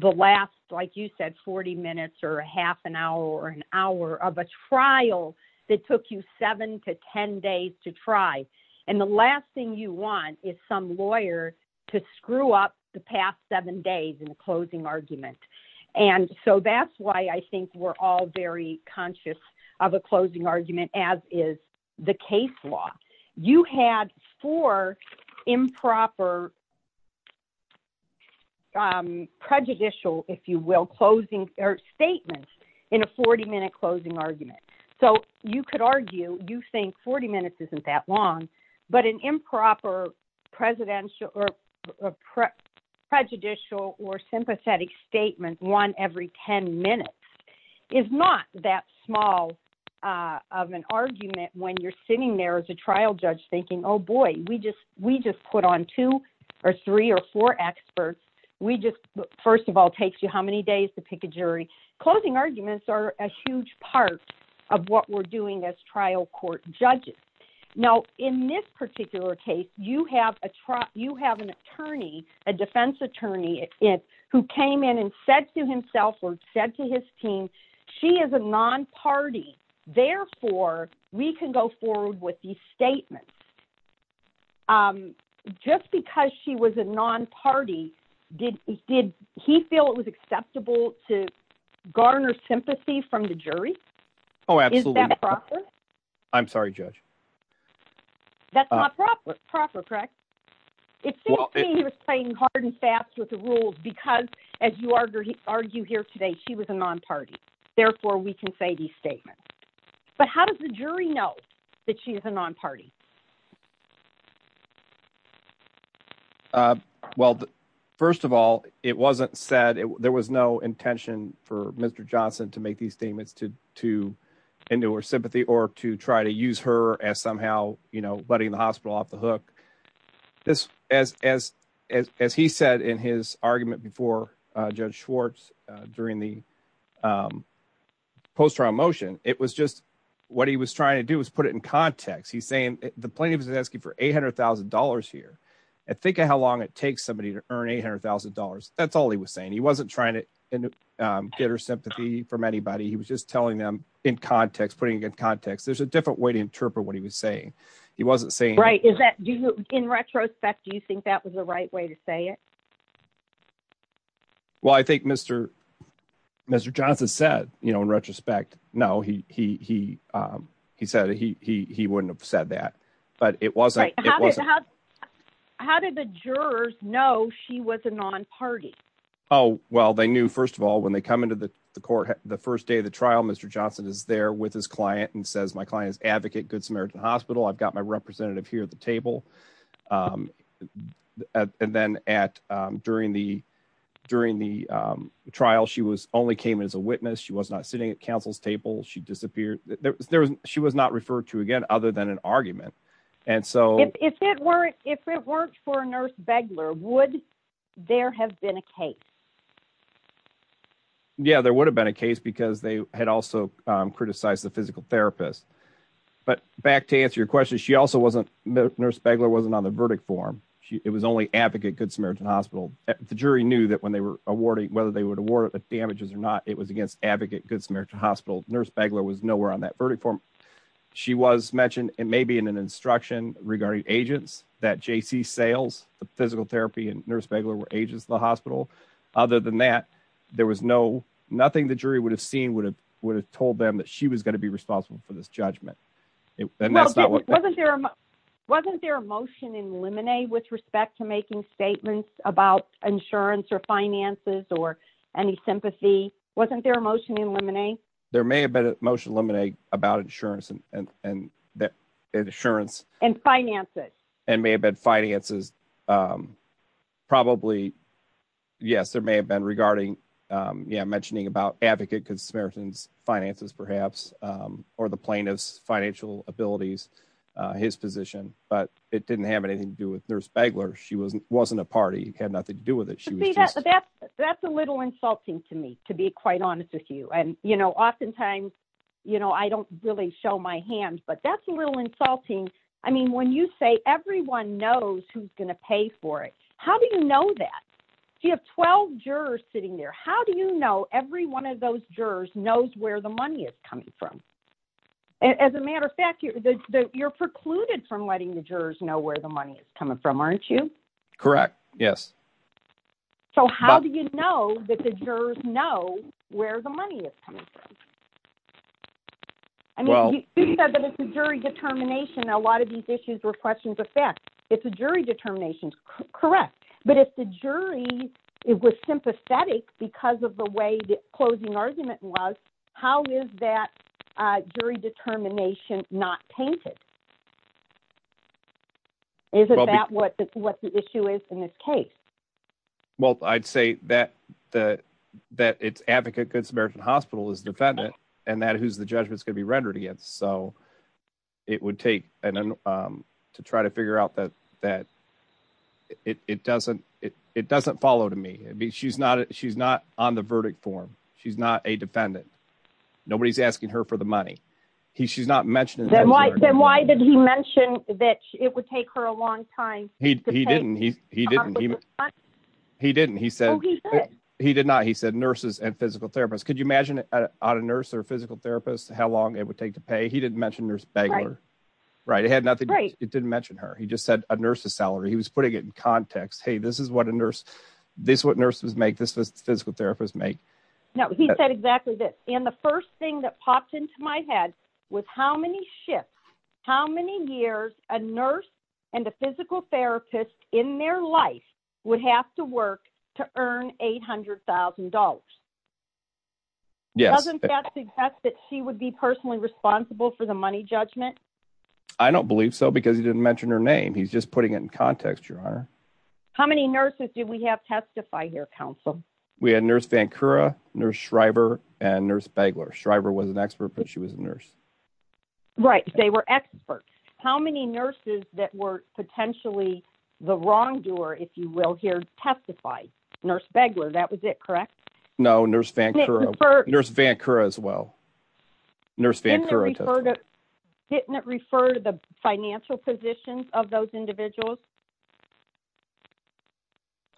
the last like you said 40 minutes or a half an hour or an hour of a trial that took you seven to 10 days to try. And the last thing you want is some lawyer to screw up the past seven days and closing argument. And so that's why I think we're all very conscious of a closing argument as is the case law, you had for improper prejudicial, if you will, closing or statements in a 40 minute closing argument. So, you could argue, you think 40 minutes isn't that long, but an improper presidential or prejudicial or sympathetic statement one every 10 minutes is not that small of an argument when you're sitting there as a trial judge thinking oh boy, we just, we just put on two or three or four experts. We just first of all takes you how many days to pick a jury closing arguments are a huge part of what we're doing as trial court judges. Now, in this particular case, you have a truck you have an attorney, a defense attorney, it who came in and said to himself or said to his team. She is a non party. Therefore, we can go forward with the statement. Um, just because she was a non party, did he did he feel it was acceptable to garner sympathy from the jury? Oh, absolutely. That's not proper proper correct. It seems to me he was playing hard and fast with the rules because, as you argue, argue here today she was a non party. Therefore, we can say the statement. But how does the jury know that she is a non party. Well, first of all, it wasn't said there was no intention for Mr. Johnson to make these statements to to endure sympathy or to try to use her as somehow, you know, letting the hospital off the hook. This, as, as, as he said in his argument before Judge Schwartz during the post round motion, it was just what he was trying to do is put it in context, he's saying the plaintiff is asking for $800,000 here. And think of how long it takes somebody to earn $800,000. That's all he was saying he wasn't trying to get her sympathy from anybody he was just telling them in context putting in context there's a different way to interpret what he was saying. He wasn't saying right is that in retrospect, do you think that was the right way to say it. Well, I think Mr. Mr. Johnson said, you know, in retrospect, no, he, he, he, he said he wouldn't have said that, but it wasn't. How did the jurors know she was a non party. Oh, well they knew first of all when they come into the court, the first day of the trial Mr Johnson is there with his client and says my clients advocate Good Samaritan Hospital I've got my representative here at the table. And then at during the during the trial she was only came as a witness she was not sitting at counsel's table she disappeared, there was, she was not referred to again, other than an argument. And so, if it weren't, if it weren't for a nurse beglar would there have been a case. Yeah, there would have been a case because they had also criticized the physical therapist. But back to answer your question she also wasn't nurse beggar wasn't on the verdict form. She, it was only advocate Good Samaritan Hospital, the jury knew that when they were awarding whether they would award the damages or not it was against advocate Good Samaritan Hospital nurse beggar was nowhere on that verdict form. She was mentioned, and maybe in an instruction regarding agents that JC sales, the physical therapy and nurse beggar were agents the hospital. Other than that, there was no nothing the jury would have seen would have would have told them that she was going to be responsible for this judgment. Wasn't there. Wasn't there a motion in lemonade with respect to making statements about insurance or finances or any sympathy, wasn't there a motion in lemonade. There may have been emotional lemonade about insurance and that insurance and finances, and may have been finances. Probably. Yes, there may have been regarding. Yeah, mentioning about advocate because Samaritan's finances, perhaps, or the plaintiff's financial abilities, his position, but it didn't have anything to do with nurse beggar she wasn't wasn't a party had nothing to do with it. That's a little insulting to me, to be quite honest with you and you know oftentimes, you know, I don't really show my hands but that's a little insulting. I mean when you say everyone knows who's going to pay for it. How do you know that you have 12 jurors sitting there, how do you know every one of those jurors knows where the money is coming from. As a matter of fact, you're precluded from letting the jurors know where the money is coming from aren't you. Correct. Yes. So how do you know that the jurors know where the money is coming from. Well, I'd say that the that it's advocate good Samaritan hospital is defendant, and that who's the judgment is going to be rendered in this case. So, it would take to try to figure out that, that it doesn't, it doesn't follow to me, I mean she's not she's not on the verdict form. She's not a defendant. Nobody's asking her for the money. He she's not mentioned. Why did he mention that it would take her a long time. He didn't he, he didn't. He didn't he said he did not he said nurses and physical therapists, could you imagine it on a nurse or physical therapist, how long it would take to pay he didn't mention nurse bagger. Right, it had nothing right, it didn't mention her he just said a nurse's salary he was putting it in context hey this is what a nurse. This what nurses make this physical therapist make. No, he said exactly that in the first thing that popped into my head with how many shifts, how many years, a nurse and a physical therapist in their life would have to work to earn $800,000. Yes, that's that she would be personally responsible for the money judgment. I don't believe so because he didn't mention her name he's just putting it in context your honor. How many nurses do we have testify here Council, we had nurse Vancouver nurse Shriver, and nurse beggar Shriver was an expert but she was a nurse. Right, they were experts, how many nurses that were potentially the wrongdoer if you will hear testify nurse beggar that was it correct. No, nurse Vancouver nurse Vancouver as well. Nurse Vancouver, didn't refer to the financial positions of those individuals.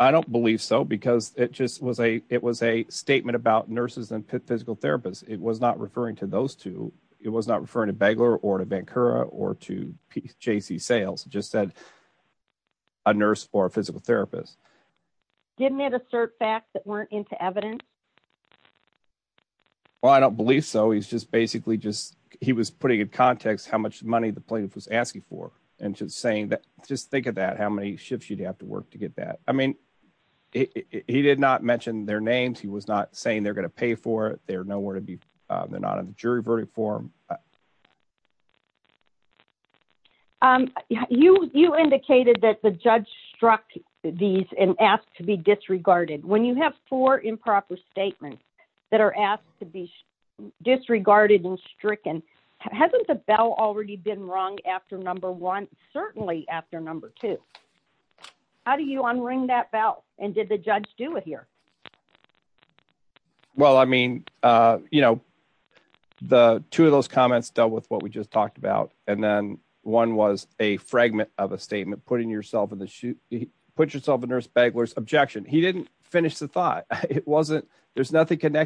I don't believe so because it just was a, it was a statement about nurses and physical therapists, it was not referring to those two, it was not referring to beggar or to Vancouver or to PC sales just said a nurse or physical therapist. Didn't it assert facts that weren't into evidence. Well, I don't believe so he's just basically just, he was putting in context how much money the plaintiff was asking for, and just saying that, just think of that how many shifts you'd have to work to get that. I mean, he did not mention their names he was not saying they're going to pay for their know where to be. They're not in the jury verdict for you, you indicated that the judge struck these and asked to be disregarded when you have for improper statements that are asked to be disregarded and stricken hasn't the bell already been wrong after number one, certainly after number two. How do you unring that bell, and did the judge do it here. Well, I mean, you know, the two of those comments dealt with what we just talked about, and then one was a fragment of a statement putting yourself in the shoe, put yourself a nurse beggars objection he didn't finish the thought it wasn't, there's nothing you got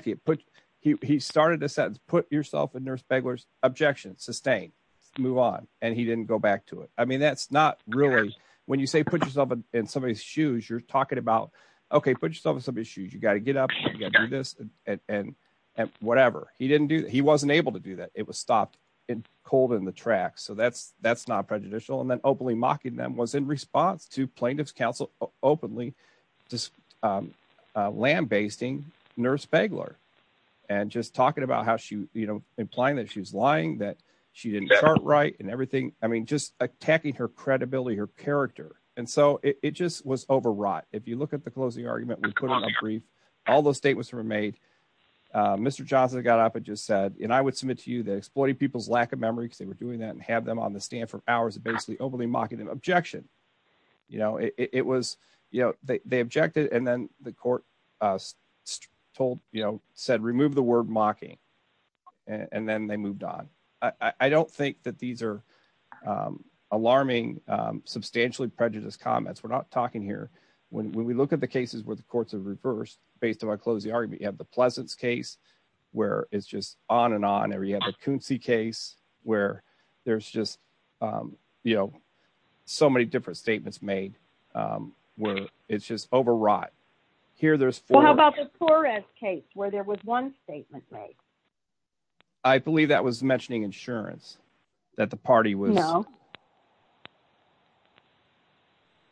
to get up and whatever he didn't do he wasn't able to do that it was stopped in cold in the tracks so that's that's not prejudicial and then openly mocking them was in response to plaintiff's counsel openly just lambasting nurse beggar, and just talking about it. And I would submit to you that exploiting people's lack of memory because they were doing that and have them on the stand for hours and basically openly mocking them objection. You know, it was, you know, they objected and then the court told you know said remove the word mocking. And then they moved on. I don't think that these are alarming substantially prejudice comments we're not talking here. When we look at the cases where the courts have reversed, based on my closing argument you have the pleasant case, where it's just on and on every I believe that was mentioning insurance, that the party was.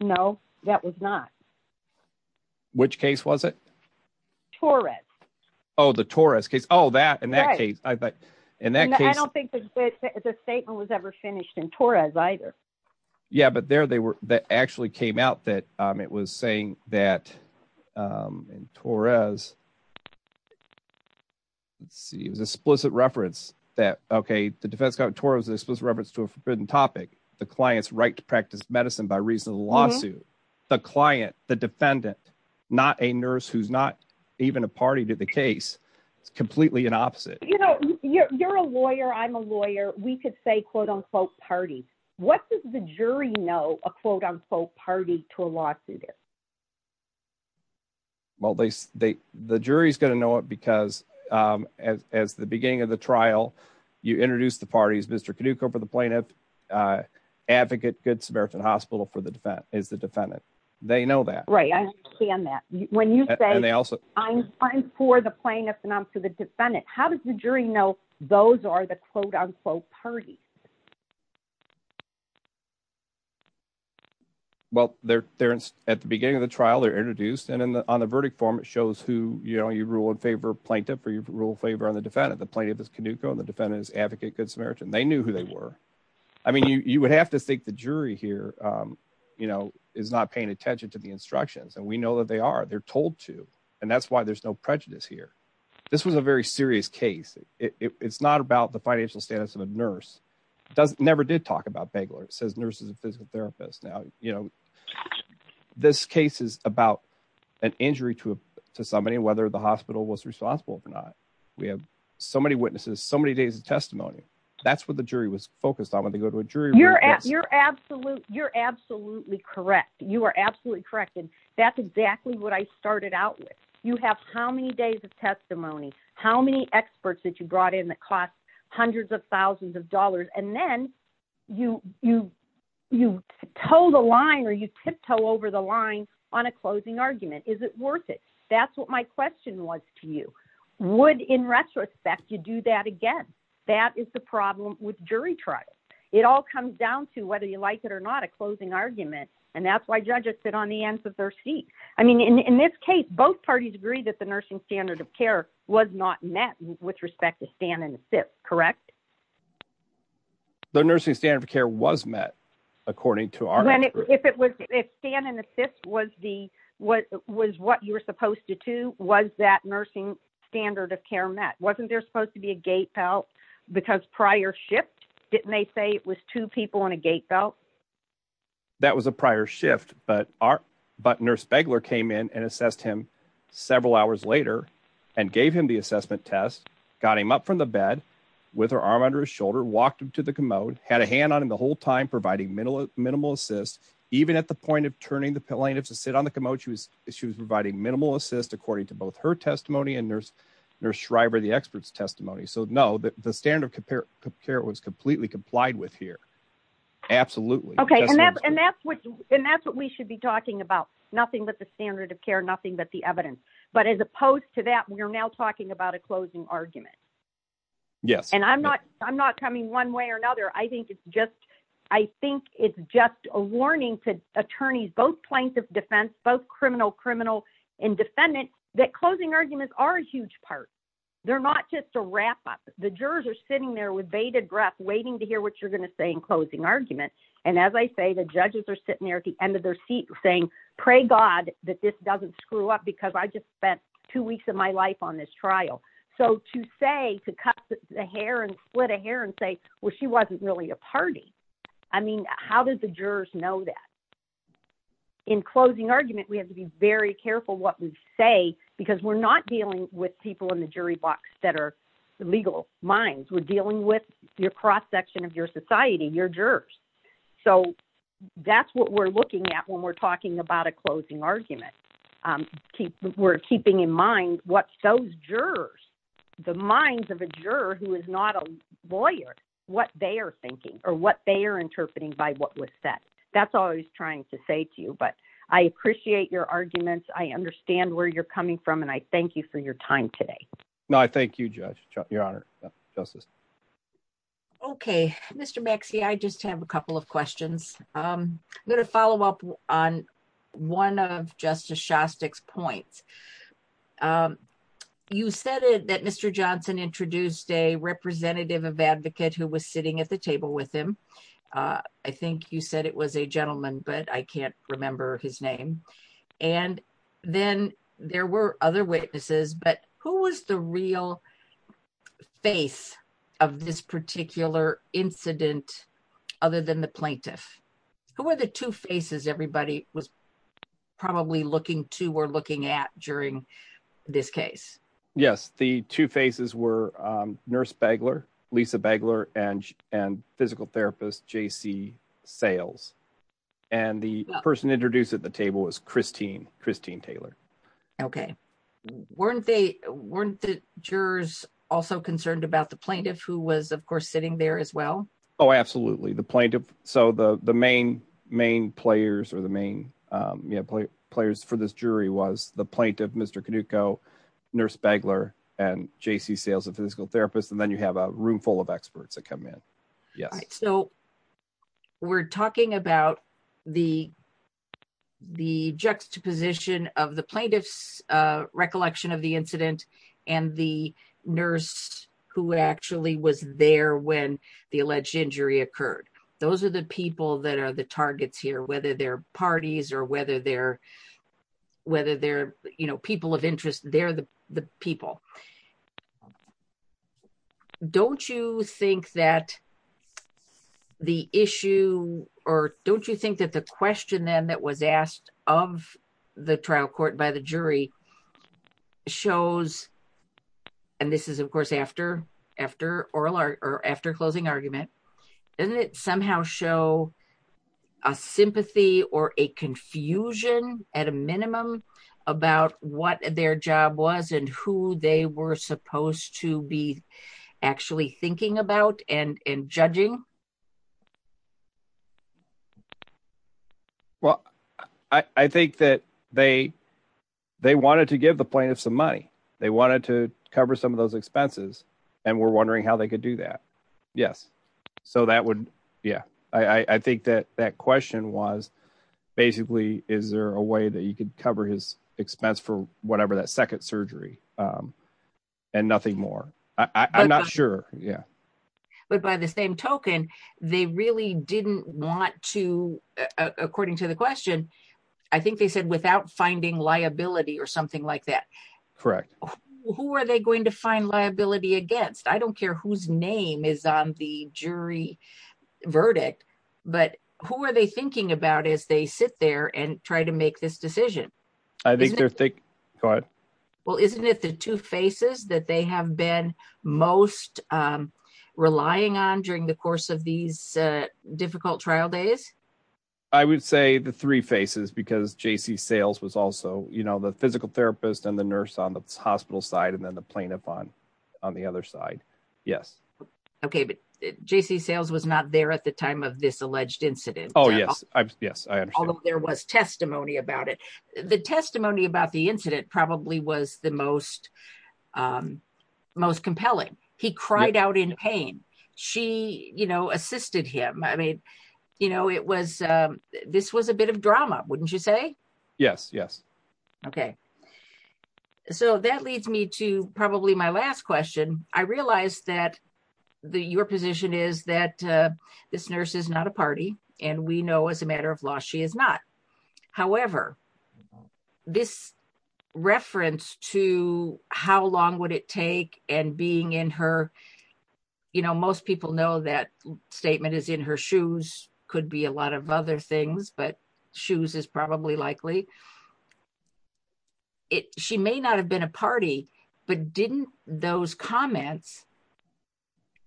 No, that was not. Which case was it. Torres. Oh the tourist case all that in that case, I bet. And then I don't think the statement was ever finished and Torres either. Yeah, but there they were that actually came out that it was saying that in Torres. See it was explicit reference that okay the defense got towards this was reference to a forbidden topic, the client's right to practice medicine by reason of the lawsuit. The client, the defendant, not a nurse who's not even a party to the case. It's completely an opposite, you know, you're a lawyer I'm a lawyer, we could say quote unquote party. What does the jury know a quote unquote party to a lawsuit. Well, they, they, the jury's going to know it because as the beginning of the trial, you introduce the parties Mr can do corporate the plaintiff advocate good Samaritan Hospital for the defense is the defendant. They know that right I can that when you say they also I'm, I'm for the plaintiff and I'm for the defendant, how does the jury know those are the quote unquote party. Well, they're, they're at the beginning of the trial they're introduced and then on the verdict form it shows who you know you rule in favor plaintiff or you rule favor on the defendant the plaintiff is Canuco and the defendant is advocate good Samaritan they knew who they were. I mean you would have to think the jury here. You know, is not paying attention to the instructions and we know that they are they're told to. And that's why there's no prejudice here. This was a very serious case, it's not about the financial status of a nurse doesn't never did talk about bagel or it says nurses and physical therapists now, you know, this case is about an injury to somebody whether the hospital was responsible or not. We have so many witnesses so many days of testimony. That's what the jury was focused on when they go to a jury you're at your absolute you're absolutely correct you are absolutely correct and that's exactly what I started out with you have how many would in retrospect you do that again. That is the problem with jury trial. It all comes down to whether you like it or not a closing argument, and that's why judges sit on the ends of their seat. I mean in this case both parties agree that the nursing standard of care was not met with respect to stand and sit. Correct. The nursing standard of care was met. According to our, if it was a stand and assist was the, what was what you were supposed to do was that nursing standard of care met wasn't there supposed to be a gate felt because prior shift, didn't they say it was two people in a gate belt. That was a prior shift, but our, but nurse beggar came in and assessed him several hours later, and gave him the assessment test, got him up from the bed with her arm under his shoulder walked him to the commode had a hand on him the whole time providing minimal minimal assist, even at the point of turning the plaintiffs to sit on the commode she was, she was providing minimal assist according to both her testimony and nurse nurse driver the experts testimony so know that the standard compare compare was completely complied with here. Absolutely. Okay. And that's what, and that's what we should be talking about nothing but the standard of care nothing but the evidence, but as opposed to that we are now talking about a closing argument. Yes, and I'm not, I'm not coming one way or another. I think it's just, I think it's just a warning to attorneys both plaintiff defense both criminal criminal and defendant that closing arguments are a huge part. They're not just a wrap up the jurors are sitting there with bated breath waiting to hear what you're going to say in closing argument. And as I say the judges are sitting there at the end of their seat saying, pray God that this doesn't screw up because I just spent two weeks of my life on this trial. So to say to cut the hair and split a hair and say, Well, she wasn't really a party. I mean, how did the jurors know that in closing argument we have to be very careful what we say, because we're not dealing with people in the jury box that are legal minds we're dealing with your cross section of your society your jurors. So that's what we're looking at when we're talking about a closing argument. Keep, we're keeping in mind what those jurors, the minds of a juror who is not a lawyer, what they are thinking, or what they are interpreting by what was said, that's always trying to say to you but I appreciate your arguments I understand where you're coming from and I thank you for your time today. No, I thank you, Judge, Your Honor, Justice. Okay, Mr. Maxey I just have a couple of questions. I'm going to follow up on one of Justice Shostak's points. You said that Mr. Johnson introduced a representative of advocate who was sitting at the table with him. I think you said it was a gentleman but I can't remember his name. And then there were other witnesses but who was the real face of this particular incident, other than the plaintiff, who are the two faces everybody was probably looking to we're looking at during this Yes, the two faces were Nurse Begler, Lisa Begler and, and physical therapist JC sales, and the person introduced at the table was Christine, Christine Taylor. Okay. Weren't they weren't the jurors also concerned about the plaintiff who was of course sitting there as well. Oh, absolutely. The plaintiff. So the, the main, main players are the main players for this jury was the plaintiff Mr. Nurse Begler, and JC sales and physical therapist and then you have a room full of experts that come in. Yes. So, we're talking about the, the juxtaposition of the plaintiffs recollection of the incident, and the nurse who actually was there when the alleged Those are the people that are the targets here whether they're parties or whether they're whether they're, you know, people of interest, they're the people. Don't you think that the issue, or don't you think that the question then that was asked of the trial court by the jury shows. And this is of course after after oral or after closing argument, and it somehow show a sympathy or a confusion, at a minimum, about what their job was and who they were supposed to be actually thinking about and and judging. Well, I think that they, they wanted to give the plaintiff some money. They wanted to cover some of those expenses. And we're wondering how they could do that. Yes. So that would. Yeah, I think that that question was basically, is there a way that you could cover his expense for whatever that second surgery and nothing more. I'm not sure. Yeah. But by the same token, they really didn't want to, according to the question. I think they said without finding liability or something like that. Correct. Who are they going to find liability against I don't care whose name is on the jury verdict, but who are they thinking about as they sit there and try to make this decision. I think they're thick. Well, isn't it the two faces that they have been most relying on during the course of these difficult trial days. I would say the three faces because JC sales was also you know the physical therapist and the nurse on the hospital side and then the plaintiff on on the other side. Yes. Okay, but JC sales was not there at the time of this alleged incident. Oh yes, yes. There was testimony about it. The testimony about the incident probably was the most, most compelling. He cried out in pain. She, you know, assisted him. I mean, you know, it was, this was a bit of drama, wouldn't you say, yes, yes. Okay. So that leads me to probably my last question, I realized that the your position is that this nurse is not a party, and we know as a matter of law, she is not. However, this reference to how long would it take, and being in her. You know most people know that statement is in her shoes, could be a lot of other things but shoes is probably likely it, she may not have been a party, but didn't those comments.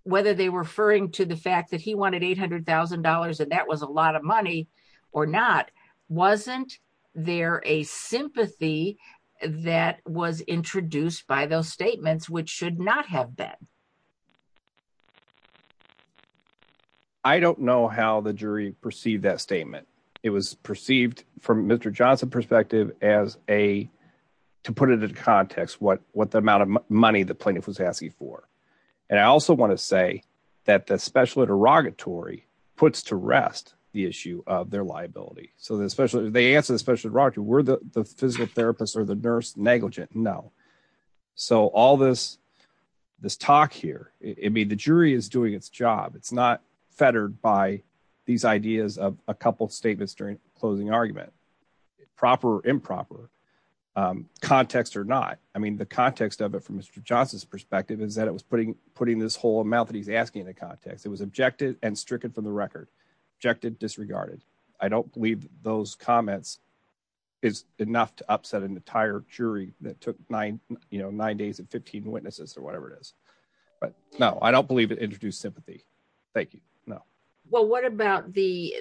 Whether they were referring to the fact that he wanted $800,000 and that was a lot of money or not, wasn't there a sympathy that was introduced by those statements which should not have been. I don't know how the jury perceived that statement. It was perceived from Mr. Johnson perspective, as a, to put it into context what what the amount of money the plaintiff was asking for. And I also want to say that the special interrogatory puts to rest, the issue of their liability, so that especially if they answer the special rock you were the physical therapist or the nurse negligent know. So all this, this talk here, it'd be the jury is doing its job it's not fettered by these ideas of a couple statements during closing argument proper improper context or not. I mean the context of it from Mr. Johnson's perspective is that it was putting, putting this whole amount that he's asking the context it was objected and stricken from the record. Objected disregarded. I don't believe those comments is enough to upset an entire jury that took nine, you know, nine days and 15 witnesses or whatever it is. But, no, I don't believe it introduced sympathy. Thank you. No. Well what about the,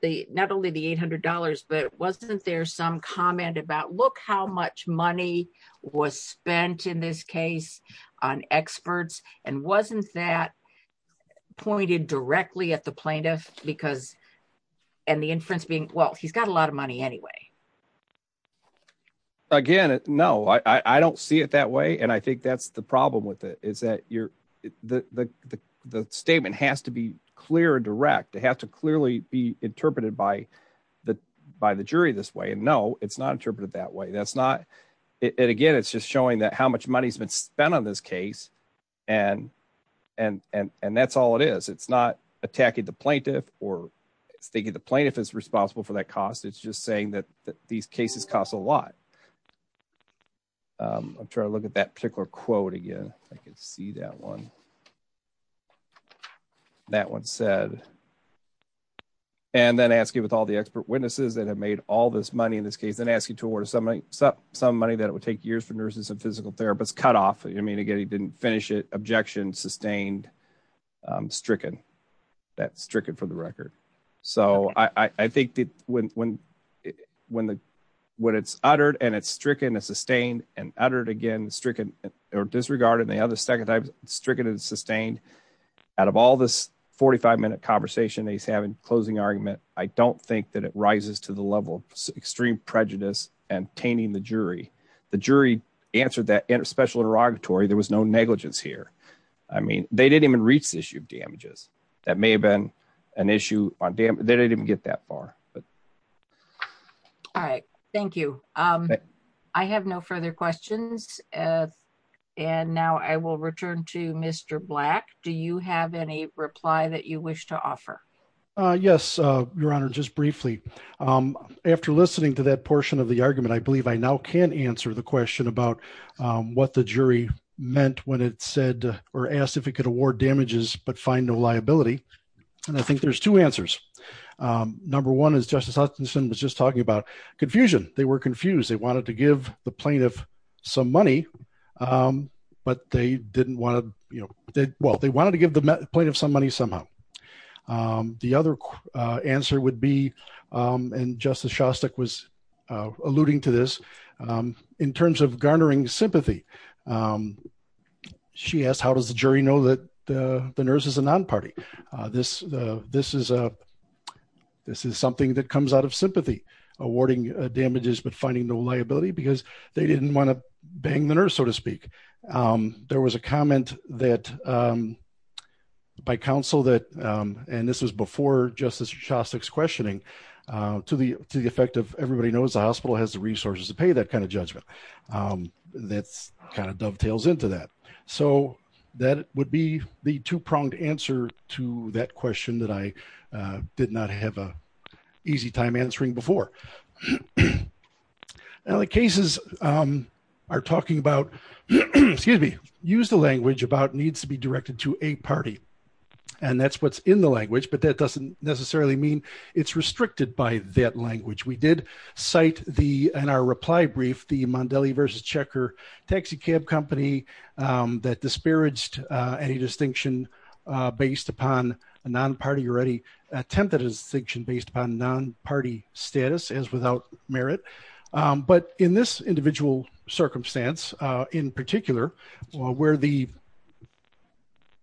the, not only the $800 but wasn't there some comment about look how much money was spent in this case on experts, and wasn't that pointed directly at the plaintiff, because, and the inference being well he's got a lot of money anyway. Again, no, I don't see it that way and I think that's the problem with it is that you're the statement has to be clear direct it has to clearly be interpreted by the, by the jury this way and no, it's not interpreted that way that's not it again it's just not attacking the plaintiff, or thinking the plaintiff is responsible for that cost it's just saying that these cases costs a lot of trying to look at that particular quote again, I can see that one. That one said, and then ask you with all the expert witnesses that have made all this money in this case and ask you to order somebody, some money that would take years for nurses and physical therapists cut off, I mean again he didn't finish it objection sustained stricken that stricken for the record. So I think that when, when, when the when it's uttered and it's stricken a sustained and uttered again stricken or disregarded and the other second I've stricken and sustained. Out of all this 45 minute conversation he's having closing argument, I don't think that it rises to the level of extreme prejudice and tainting the jury, the jury answered that inter special derogatory there was no negligence here. I mean, they didn't even reach the issue of damages. That may have been an issue on day they didn't get that far. All right. Thank you. I have no further questions. And now I will return to Mr black. Do you have any reply that you wish to offer. Yes, Your Honor, just briefly. After listening to that portion of the argument I believe I now can answer the question about what the jury meant when it said, or asked if it could award damages, but find no liability. And I think there's two answers. Number one is Justice Hutchinson was just talking about confusion, they were confused they wanted to give the plaintiff, some money. But they didn't want to, you know, they, well they wanted to give the point of some money somehow. The other answer would be, and Justice Shostak was alluding to this in terms of garnering sympathy. She asked how does the jury know that the nurse is a non party. This, this is a. This is something that comes out of sympathy, awarding damages but finding no liability because they didn't want to bang the nurse, so to speak. There was a comment that by counsel that, and this was before Justice Shostak questioning to the, to the effect of everybody knows the hospital has the resources to pay that kind of judgment. That's kind of dovetails into that. So, that would be the two pronged answer to that question that I did not have a easy time answering before. Now the cases are talking about, excuse me, use the language about needs to be directed to a party. And that's what's in the language but that doesn't necessarily mean it's restricted by that language we did cite the in our reply brief the Mondelli versus checker taxicab company that disparaged any distinction. Based upon a non party already attempted a distinction based upon non party status as without merit. But in this individual circumstance, in particular, where the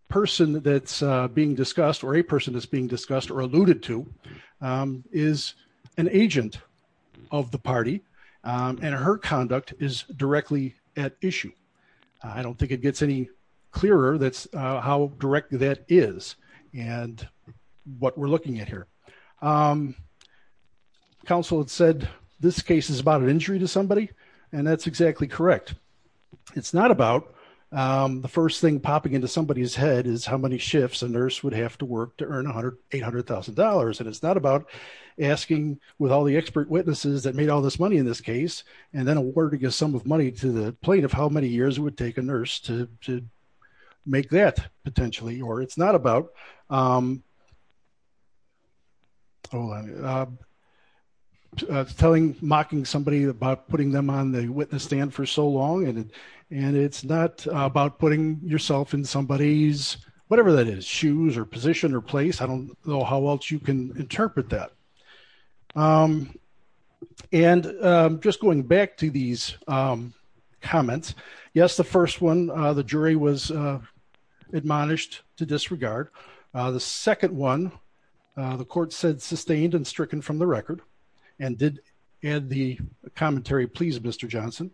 person that's being discussed or a person is being discussed or alluded to is an agent of the party, and her conduct is directly at issue. I don't think it gets any clearer that's how direct that is, and what we're looking at here. Council had said, this case is about an injury to somebody. And that's exactly correct. It's not about the first thing popping into somebody's head is how many shifts a nurse would have to work to earn 100 $800,000 and it's not about asking with all the expert witnesses that made all this money in this case, and then a word to get some of money to the plate of how many years would take a nurse to make that potentially or it's not about. Oh, telling mocking somebody about putting them on the witness stand for so long and and it's not about putting yourself in somebody's whatever that is shoes or position or place I don't know how else you can interpret that. And just going back to these comments. Yes, the first one, the jury was admonished to disregard. The second one, the court said sustained and stricken from the record, and did add the commentary please Mr. Johnson.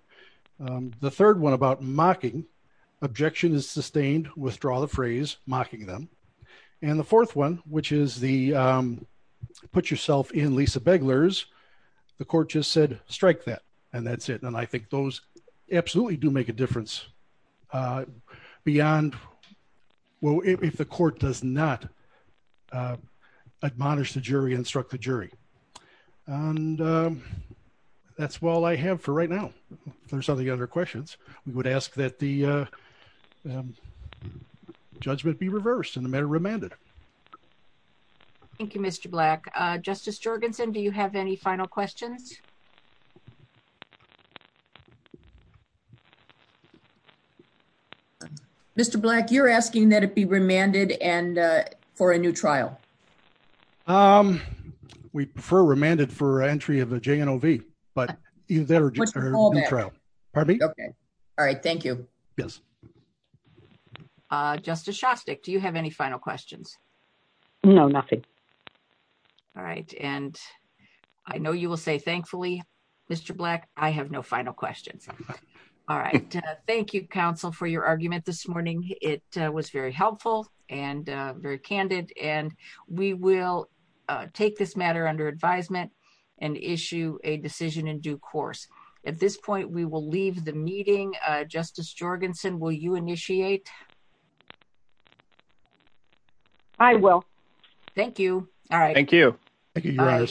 The third one about mocking objection is sustained withdraw the phrase mocking them. And the fourth one, which is the put yourself in Lisa beggars. The court just said, strike that. And that's it. And I think those absolutely do make a difference. Beyond. Well, if the court does not admonish the jury instruct the jury. And that's all I have for right now. There's other questions, we would ask that the judgment be reversed in the matter remanded. Thank you, Mr. Black Justice Jorgensen Do you have any final questions. Mr. Black you're asking that it be remanded and for a new trial. Um, we prefer remanded for entry of the JNLV, but either trial. Okay. All right. Thank you. Yes. Justice Shostak Do you have any final questions. No, nothing. All right. And I know you will say thankfully, Mr. Black, I have no final questions. All right. Thank you counsel for your argument this morning, it was very helpful and very candid and we will take this matter under advisement and issue a decision in due course. At this point we will leave the meeting, Justice Jorgensen will you initiate. I will. Thank you. All right, thank you. Thank you.